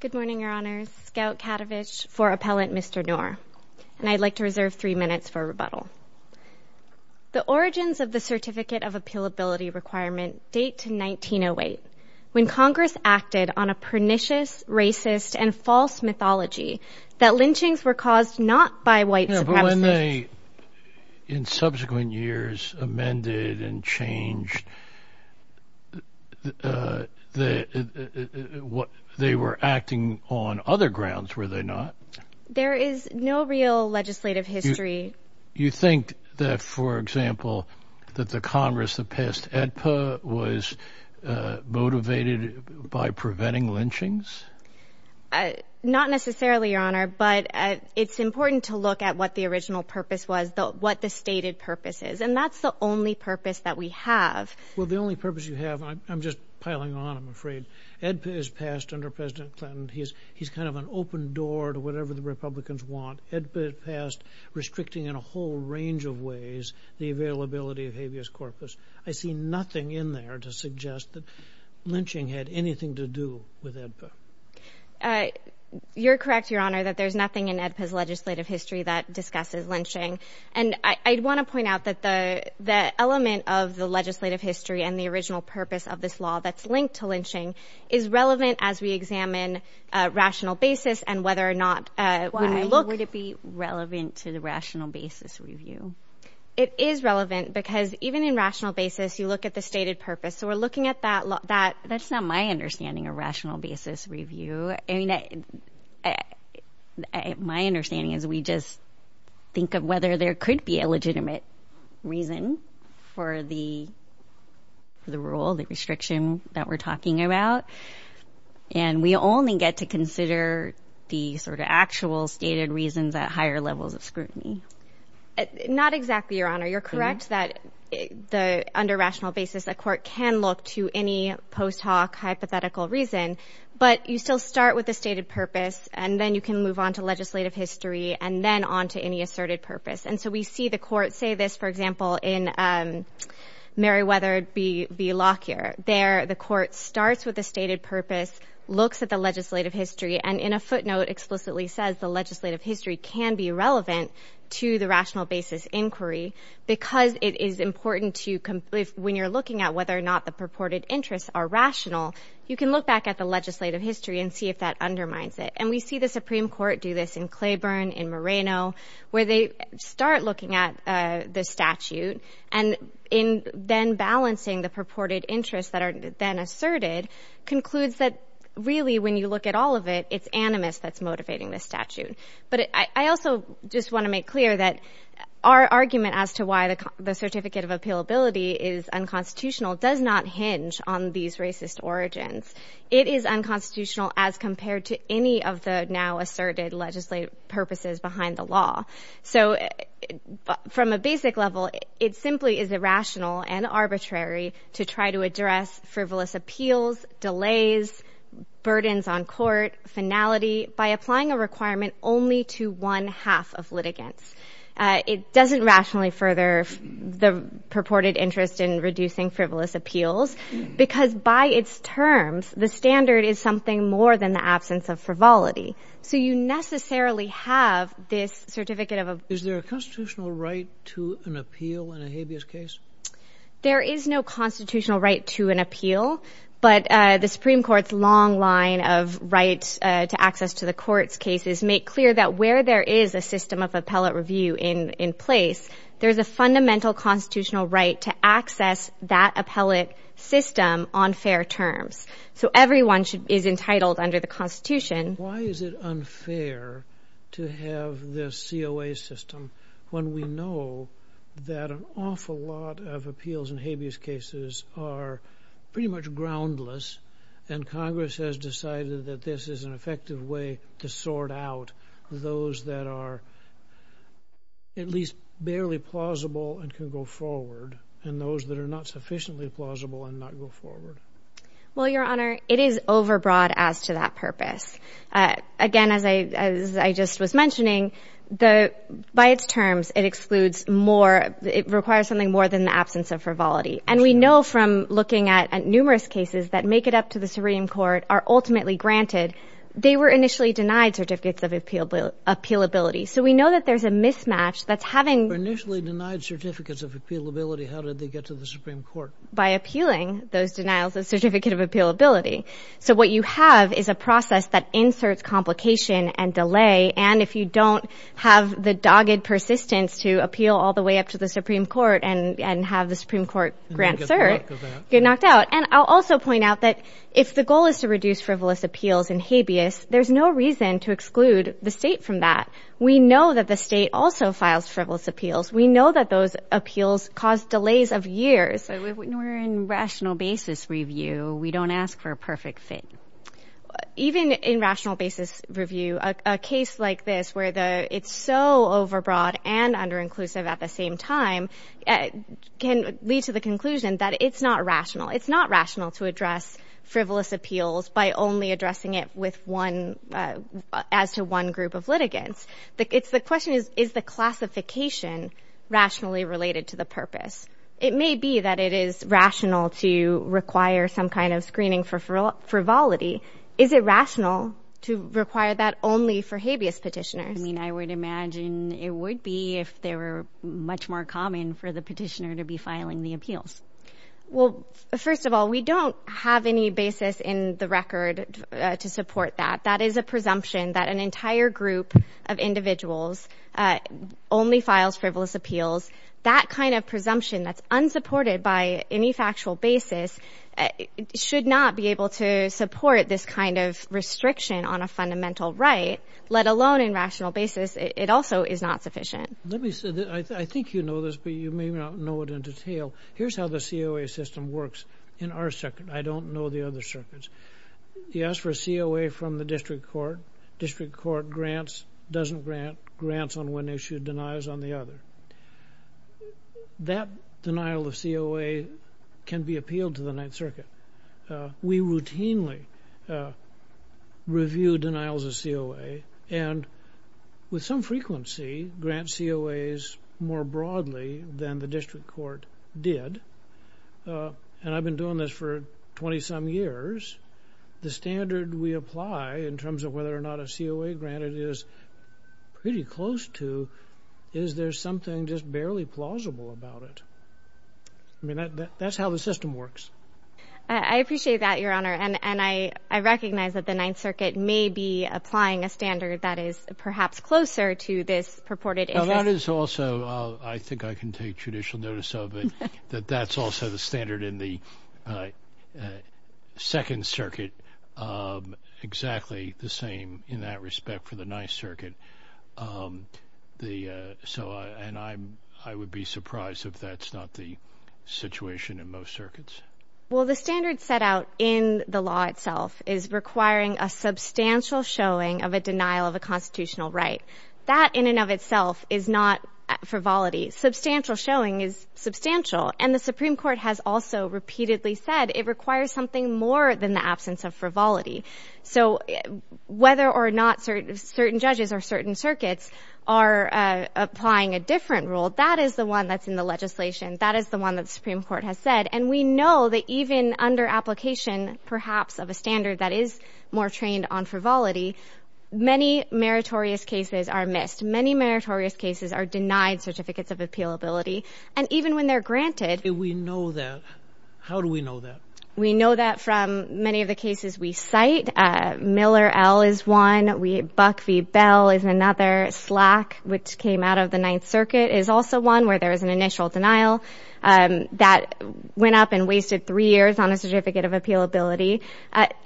The origins of the Certificate of Appealability Requirement date to 1908, when Congress acted on a pernicious, racist, and false mythology that lynchings were caused not by white supremacists But when they, in subsequent years, amended and changed, they were acting on other grounds, were they not? There is no real legislative history. You think that, for example, that the Congress that passed AEDPA was motivated by preventing lynchings? Not necessarily, Your Honor, but it's important to look at what the original purpose was, what the stated purpose is. And that's the only purpose that we have. Well, the only purpose you have, and I'm just piling on, I'm afraid, AEDPA is passed under President Clinton. He's kind of an open door to whatever the Republicans want. AEDPA is passed restricting in a whole range of ways the availability of habeas corpus. I see nothing in there to suggest that lynching had anything to do with AEDPA. You're correct, Your Honor, that there's nothing in AEDPA's legislative history that discusses lynching. And I'd want to point out that the element of the legislative history and the original purpose of this law that's linked to lynching is relevant as we examine rational basis and whether or not when we look... Why would it be relevant to the rational basis review? It is relevant because even in rational basis, you look at the stated purpose. So we're looking at that... That's not my understanding of rational basis review. I mean, my understanding is we just think of whether there could be a legitimate reason for the rule, the restriction that we're talking about, and we only get to consider the sort of actual stated reasons at higher levels of scrutiny. Not exactly, Your Honor. You're correct that under rational basis, a court can look to any post hoc hypothetical reason, but you still start with the stated purpose, and then you can move on to legislative history, and then on to any asserted purpose. And so we see the court say this, for example, in Meriwether v. Lockyer. There, the court starts with the stated purpose, looks at the legislative history, and in a footnote explicitly says the legislative history can be relevant to the rational basis inquiry because it is important to... When you're looking at whether or not the purported interests are rational, you can look back at the legislative history and see if that undermines it. And we see the Supreme Court do this in Claiborne, in Moreno, where they start looking at the statute, and in then balancing the purported interests that are then asserted, concludes that really when you look at all of it, it's animus that's motivating this statute. But I also just want to make clear that our argument as to why the certificate of appealability is unconstitutional does not hinge on these racist origins. It is unconstitutional as compared to any of the now asserted legislative purposes behind the law. So from a basic level, it simply is irrational and arbitrary to try to address frivolous appeals, delays, burdens on court, finality, by applying a requirement only to one half of litigants. It doesn't rationally further the purported interest in reducing frivolous appeals because by its terms, the standard is something more than the absence of frivolity. So you necessarily have this certificate of... Is there a constitutional right to an appeal in a habeas case? There is no constitutional right to an appeal, but the Supreme Court's long line of rights to access to the court's cases make clear that where there is a system of appellate review in place, there's a fundamental constitutional right to access that appellate system on fair terms. So everyone is entitled under the Constitution. Why is it unfair to have this COA system when we know that an awful lot of appeals in habeas cases are pretty much groundless and Congress has decided that this is an effective way to sort out those that are at least barely plausible and can go forward and those that are not sufficiently plausible and not go forward? Well, Your Honor, it is overbroad as to that purpose. Again, as I just was mentioning, by its terms, it excludes more... it requires something more than the absence of frivolity. And we know from looking at numerous cases that make it up to the Supreme Court are ultimately granted. They were initially denied certificates of appealability. So we know that there's a mismatch that's having... They were initially denied certificates of appealability. How did they get to the Supreme Court? By appealing those denials of certificate of appealability. So what you have is a process that inserts complication and delay. And if you don't have the dogged persistence to appeal all the way up to the Supreme Court and have the Supreme Court grant cert, you're knocked out. And I'll also point out that if the goal is to reduce frivolous appeals in habeas, there's no reason to exclude the state from that. We know that the state also files frivolous appeals. We know that those appeals cause delays of years. So when we're in rational basis review, we don't ask for a perfect fit. Even in rational basis review, a case like this where it's so overbroad and underinclusive at the same time can lead to the conclusion that it's not rational. It's not rational to address frivolous appeals by only addressing it as to one group of litigants. The question is, is the classification rationally related to the purpose? It may be that it is rational to require some kind of screening for frivolity. Is it rational to require that only for habeas petitioners? I mean, I would imagine it would be if they were much more common for the petitioner to be filing the appeals. Well, first of all, we don't have any basis in the record to support that. That is a presumption that an entire group of individuals only files frivolous appeals. That kind of presumption that's unsupported by any factual basis should not be able to support this kind of restriction on a fundamental right, let alone in rational basis. It also is not sufficient. Let me say this. I think you know this, but you may not know it in detail. Here's how the COA system works in our circuit. I don't know the other circuits. You ask for a COA from the district court. District court grants, doesn't grant, grants on one issue, denies on the other. That denial of COA can be appealed to the Ninth Circuit. We routinely review denials of COA, and with some frequency grant COAs more broadly than the district court did. And I've been doing this for 20-some years. The standard we apply in terms of whether or not a COA grant is pretty close to is there something just barely plausible about it. I mean, that's how the system works. I appreciate that, Your Honor, and I recognize that the Ninth Circuit may be applying a standard that is perhaps closer to this purported interest. That is also, I think I can take judicial notice of it, that that's also the standard in the Second Circuit, exactly the same in that respect for the Ninth Circuit. And I would be surprised if that's not the situation in most circuits. Well, the standard set out in the law itself is requiring a substantial showing of a denial of a constitutional right. That in and of itself is not frivolity. Substantial showing is substantial. And the Supreme Court has also repeatedly said it requires something more than the absence of frivolity. So whether or not certain judges or certain circuits are applying a different rule, that is the one that's in the legislation. That is the one that the Supreme Court has said. And we know that even under application, perhaps, of a standard that is more trained on frivolity, many meritorious cases are missed. Many meritorious cases are denied certificates of appealability. And even when they're granted... We know that. How do we know that? We know that from many of the cases we cite. Miller L. is one. Buck v. Bell is another. Slack, which came out of the Ninth Circuit, is also one where there is an initial denial that went up and wasted three years on a certificate of appealability.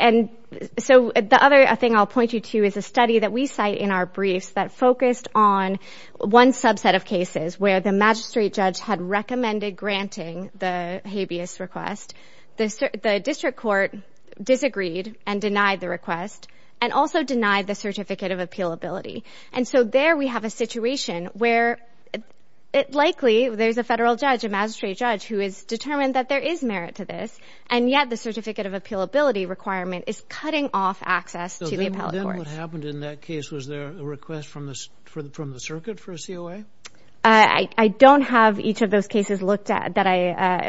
And so the other thing I'll point you to is a study that we cite in our briefs that focused on one subset of cases where the magistrate judge had recommended granting the habeas request. The district court disagreed and denied the request and also denied the certificate of appealability. And so there we have a situation where, likely, there's a federal judge, a magistrate judge, who has determined that there is merit to this, and yet the certificate of appealability requirement is cutting off access to the appellate court. So then what happened in that case, was there a request from the circuit for a COA? I don't have each of those cases looked at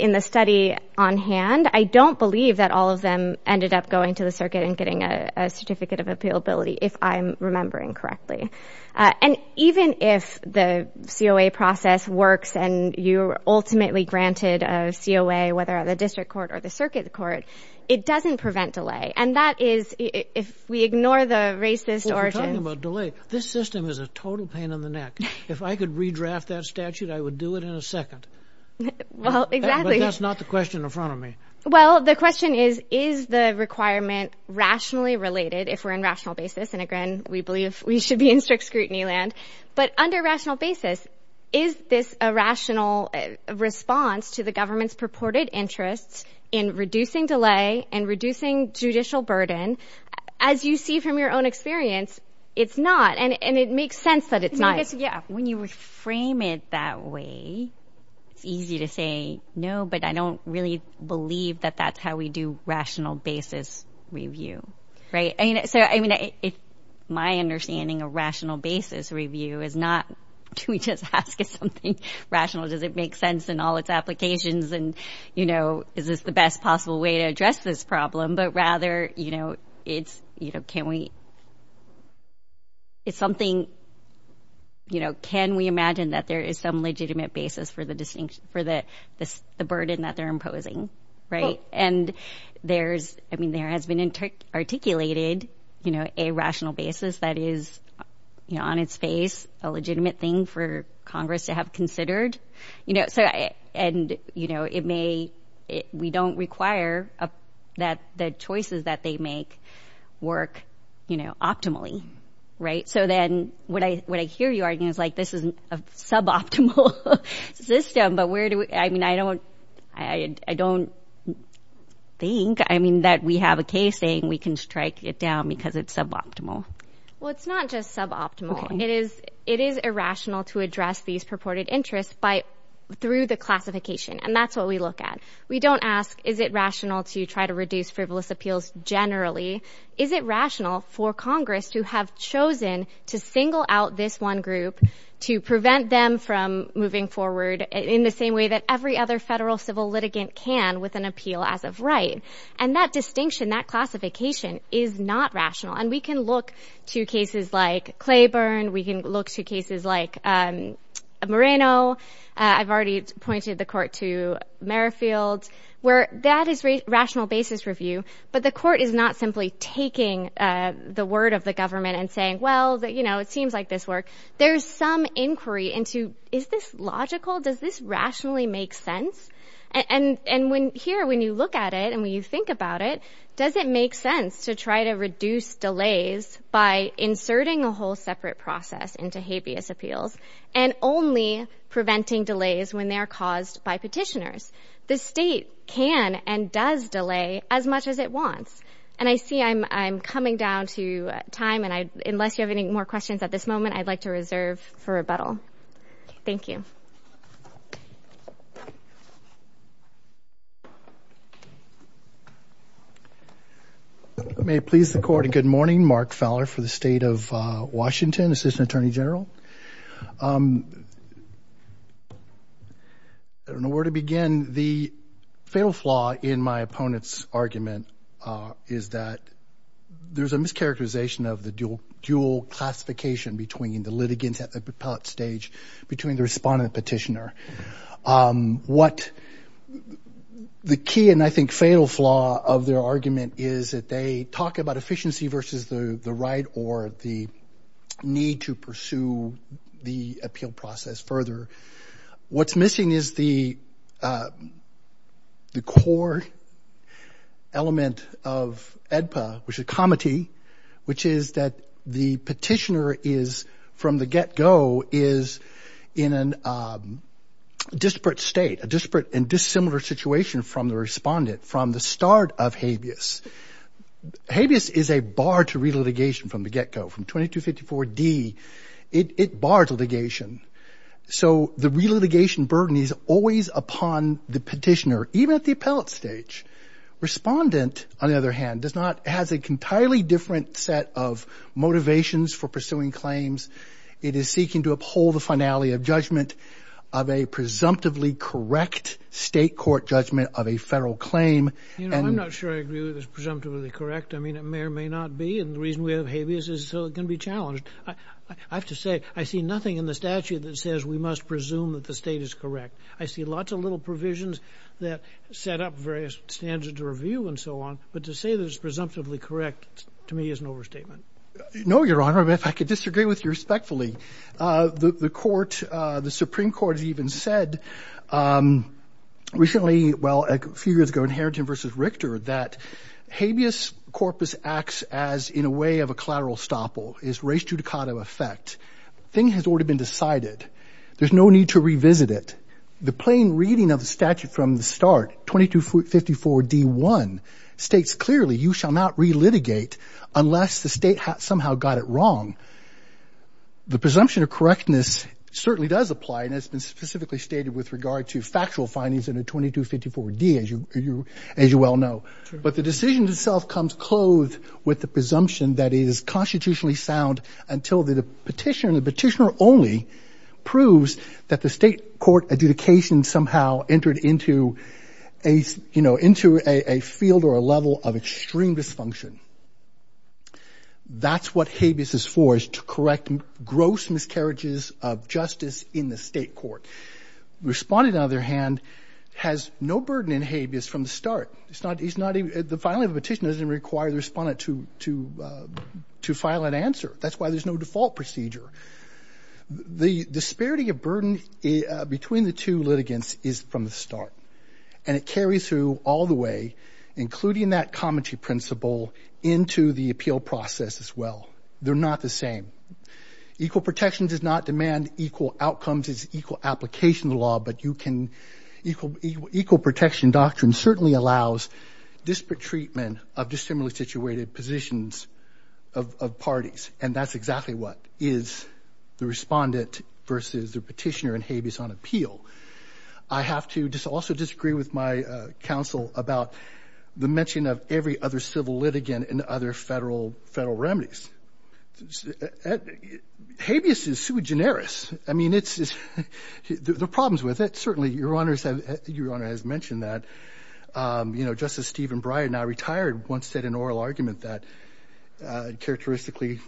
in the study on hand. I don't believe that all of them ended up going to the circuit and getting a certificate of appealability, if I'm remembering correctly. And even if the COA process works and you're ultimately granted a COA, whether at the district court or the circuit court, it doesn't prevent delay. And that is, if we ignore the racist origins... Well, if you're talking about delay, this system is a total pain in the neck. If I could redraft that statute, I would do it in a second. Well, exactly. But that's not the question in front of me. Well, the question is, is the requirement rationally related, if we're in rational basis, and again, we believe we should be in strict scrutiny land, but under rational basis, is this a rational response to the government's purported interests in reducing delay and reducing judicial burden? As you see from your own experience, it's not. And it makes sense that it's not. When you reframe it that way, it's easy to say, no, but I don't really believe that that's how we do rational basis review, right? So, I mean, my understanding of rational basis review is not we just ask something rational. Does it make sense in all its applications? And, you know, is this the best possible way to address this problem? But rather, you know, it's, you know, can we, it's something, you know, can we imagine that there is some legitimate basis for the burden that they're imposing, right? And there's, I mean, there has been articulated, you know, a rational basis that is, you know, on its face, a legitimate thing for Congress to have considered. You know, so, and, you know, it may, we don't require that the choices that they make work, you know, optimally, right? So then what I hear you arguing is like, this is a suboptimal system, but where do we, I mean, I don't think, I mean, that we have a case saying we can strike it down because it's suboptimal. Well, it's not just suboptimal. It is irrational to address these purported interests, by, through the classification. And that's what we look at. We don't ask, is it rational to try to reduce frivolous appeals generally? Is it rational for Congress to have chosen to single out this one group to prevent them from moving forward in the same way that every other federal civil litigant can with an appeal as of right? And that distinction, that classification is not rational. And we can look to cases like Claiborne. We can look to cases like Moreno. I've already pointed the court to Merrifield, where that is rational basis review, but the court is not simply taking the word of the government and saying, well, you know, it seems like this work. There's some inquiry into, is this logical? Does this rationally make sense? And when here, when you look at it and when you think about it, does it make sense to try to reduce delays by inserting a whole separate process into habeas appeals and only preventing delays when they are caused by petitioners? The state can and does delay as much as it wants. And I see I'm coming down to time, and unless you have any more questions at this moment, I'd like to reserve for rebuttal. Thank you. May it please the court, good morning. Mark Fowler for the state of Washington, assistant attorney general. I don't know where to begin. The fatal flaw in my opponent's argument is that there's a mischaracterization of the dual classification between the litigants at the stage between the respondent and the petitioner. What the key and I think fatal flaw of their argument is that they talk about efficiency versus the right or the need to pursue the appeal process further. What's missing is the core element of AEDPA, which is comity, which is that the petitioner is from the get-go is in a disparate state, a disparate and dissimilar situation from the respondent from the start of habeas. Habeas is a bar to re-litigation from the get-go. From 2254D, it bars litigation. So the re-litigation burden is always upon the petitioner, even at the appellate stage. Respondent, on the other hand, has an entirely different set of motivations for pursuing claims. It is seeking to uphold the finality of judgment of a presumptively correct state court judgment of a federal claim. You know, I'm not sure I agree with this presumptively correct. I mean, it may or may not be. And the reason we have habeas is so it can be challenged. I have to say, I see nothing in the statute that says we must presume that the state is correct. I see lots of little provisions that set up various standards of review and so on. But to say that it's presumptively correct, to me, is an overstatement. No, Your Honor. If I could disagree with you respectfully. The Supreme Court has even said recently, well, a few years ago, in Harrington v. Richter, that habeas corpus acts as, in a way, of a collateral estoppel, is res judicata effect. The thing has already been decided. There's no need to revisit it. The plain reading of the statute from the start, 2254D1, states clearly, you shall not relitigate unless the state somehow got it wrong. The presumption of correctness certainly does apply, and it's been specifically stated with regard to factual findings in 2254D, as you well know. But the decision itself comes clothed with the presumption that it is constitutionally sound until the petitioner, the petitioner only, proves that the state court adjudication somehow entered into a field or a level of extreme dysfunction. That's what habeas is for, is to correct gross miscarriages of justice in the state court. Respondent, on the other hand, has no burden in habeas from the start. The filing of a petition doesn't require the respondent to file an answer. That's why there's no default procedure. The disparity of burden between the two litigants is from the start, and it carries through all the way, including that comity principle, into the appeal process as well. They're not the same. Equal protection does not demand equal outcomes. It's equal application of the law, but you can equal protection doctrine certainly allows disparate treatment of dissimilarly situated positions of parties, and that's exactly what is the respondent versus the petitioner in habeas on appeal. I have to also disagree with my counsel about the mention of every other civil litigant in other Federal remedies. Habeas is sui generis. I mean, there are problems with it, certainly. Your Honor has mentioned that. You know, Justice Stephen Breyer, now retired, once said in an oral argument that, characteristically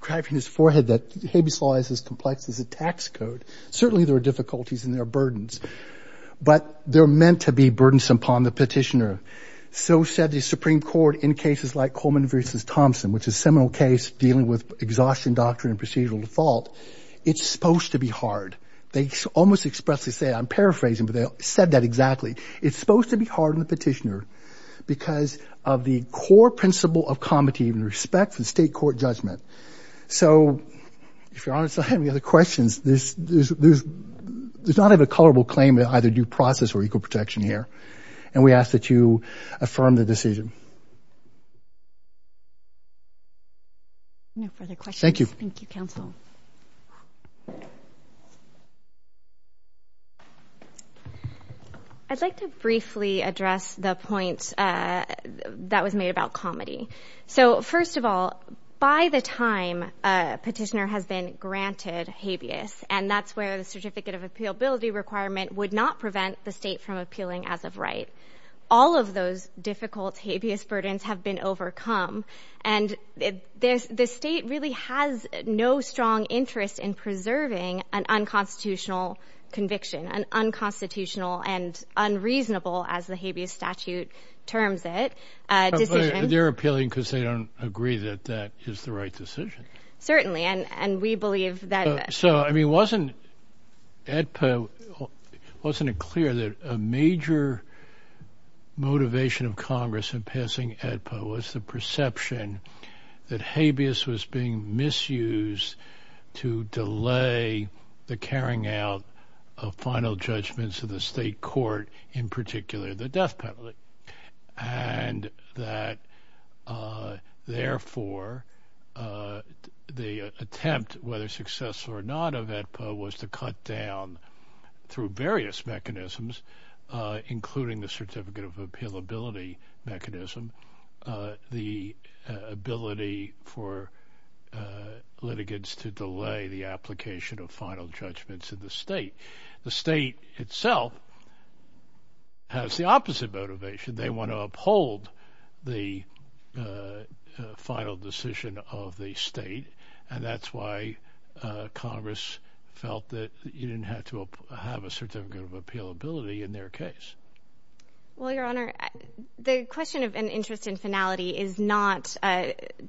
grabbing his forehead, that habeas law is as complex as a tax code. Certainly there are difficulties and there are burdens, but they're meant to be burdensome upon the petitioner. So said the Supreme Court in cases like Coleman versus Thompson, which is a seminal case dealing with exhaustion doctrine and procedural default. It's supposed to be hard. They almost expressly say, I'm paraphrasing, but they said that exactly. It's supposed to be hard on the petitioner because of the core principle of comity and respect for the state court judgment. So if Your Honor's not having other questions, there's not a colorable claim of either due process or equal protection here, and we ask that you affirm the decision. No further questions. Thank you. Thank you, counsel. I'd like to briefly address the point that was made about comity. So, first of all, by the time a petitioner has been granted habeas, and that's where the certificate of appealability requirement would not prevent the state from appealing as of right. All of those difficult habeas burdens have been overcome, and the state really has no strong, strong interest in preserving an unconstitutional conviction, an unconstitutional and unreasonable, as the habeas statute terms it, decision. They're appealing because they don't agree that that is the right decision. Certainly, and we believe that. So, I mean, wasn't it clear that a major motivation of Congress in passing HEDPA was the perception that habeas was being misused to delay the carrying out of final judgments in the state court, in particular the death penalty, and that, therefore, the attempt, whether successful or not, of HEDPA was to cut down through various mechanisms, including the certificate of appealability mechanism, the ability for litigants to delay the application of final judgments in the state. The state itself has the opposite motivation. They want to uphold the final decision of the state, and that's why Congress felt that you didn't have to have a certificate of appealability in their case. Well, Your Honor, the question of an interest in finality is not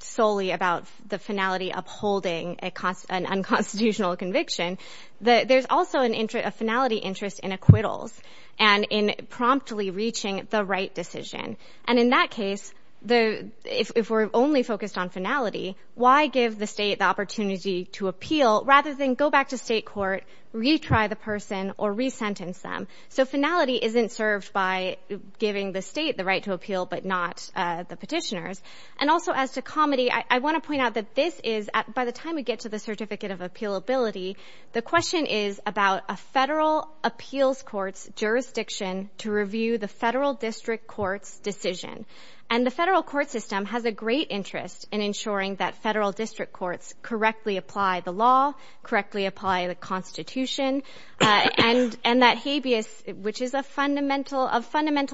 solely about the finality upholding an unconstitutional conviction. There's also a finality interest in acquittals and in promptly reaching the right decision. And in that case, if we're only focused on finality, why give the state the opportunity to appeal rather than go back to state court, retry the person, or resentence them? So finality isn't served by giving the state the right to appeal but not the petitioners. And also as to comedy, I want to point out that this is, by the time we get to the certificate of appealability, the question is about a federal appeals court's jurisdiction to review the federal district court's decision. And the federal court system has a great interest in ensuring that federal district courts correctly apply the law, correctly apply the Constitution, and that habeas, which is of fundamental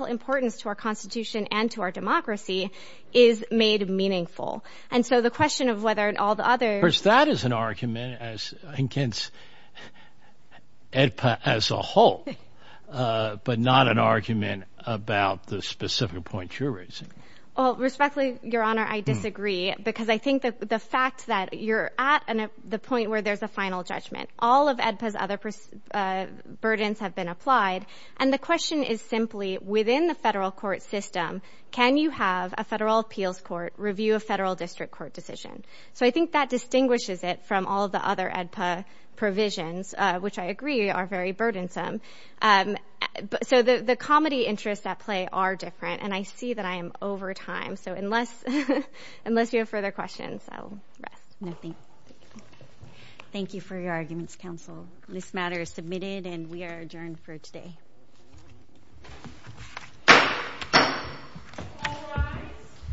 importance to our Constitution and to our democracy, is made meaningful. First, that is an argument against AEDPA as a whole but not an argument about the specific point you're raising. Well, respectfully, Your Honor, I disagree because I think the fact that you're at the point where there's a final judgment, all of AEDPA's other burdens have been applied, and the question is simply, within the federal court system, can you have a federal appeals court review a federal district court decision? So I think that distinguishes it from all of the other AEDPA provisions, which I agree are very burdensome. So the comedy interests at play are different, and I see that I am over time. So unless you have further questions, I'll rest. Thank you for your arguments, counsel. This matter is submitted, and we are adjourned for today.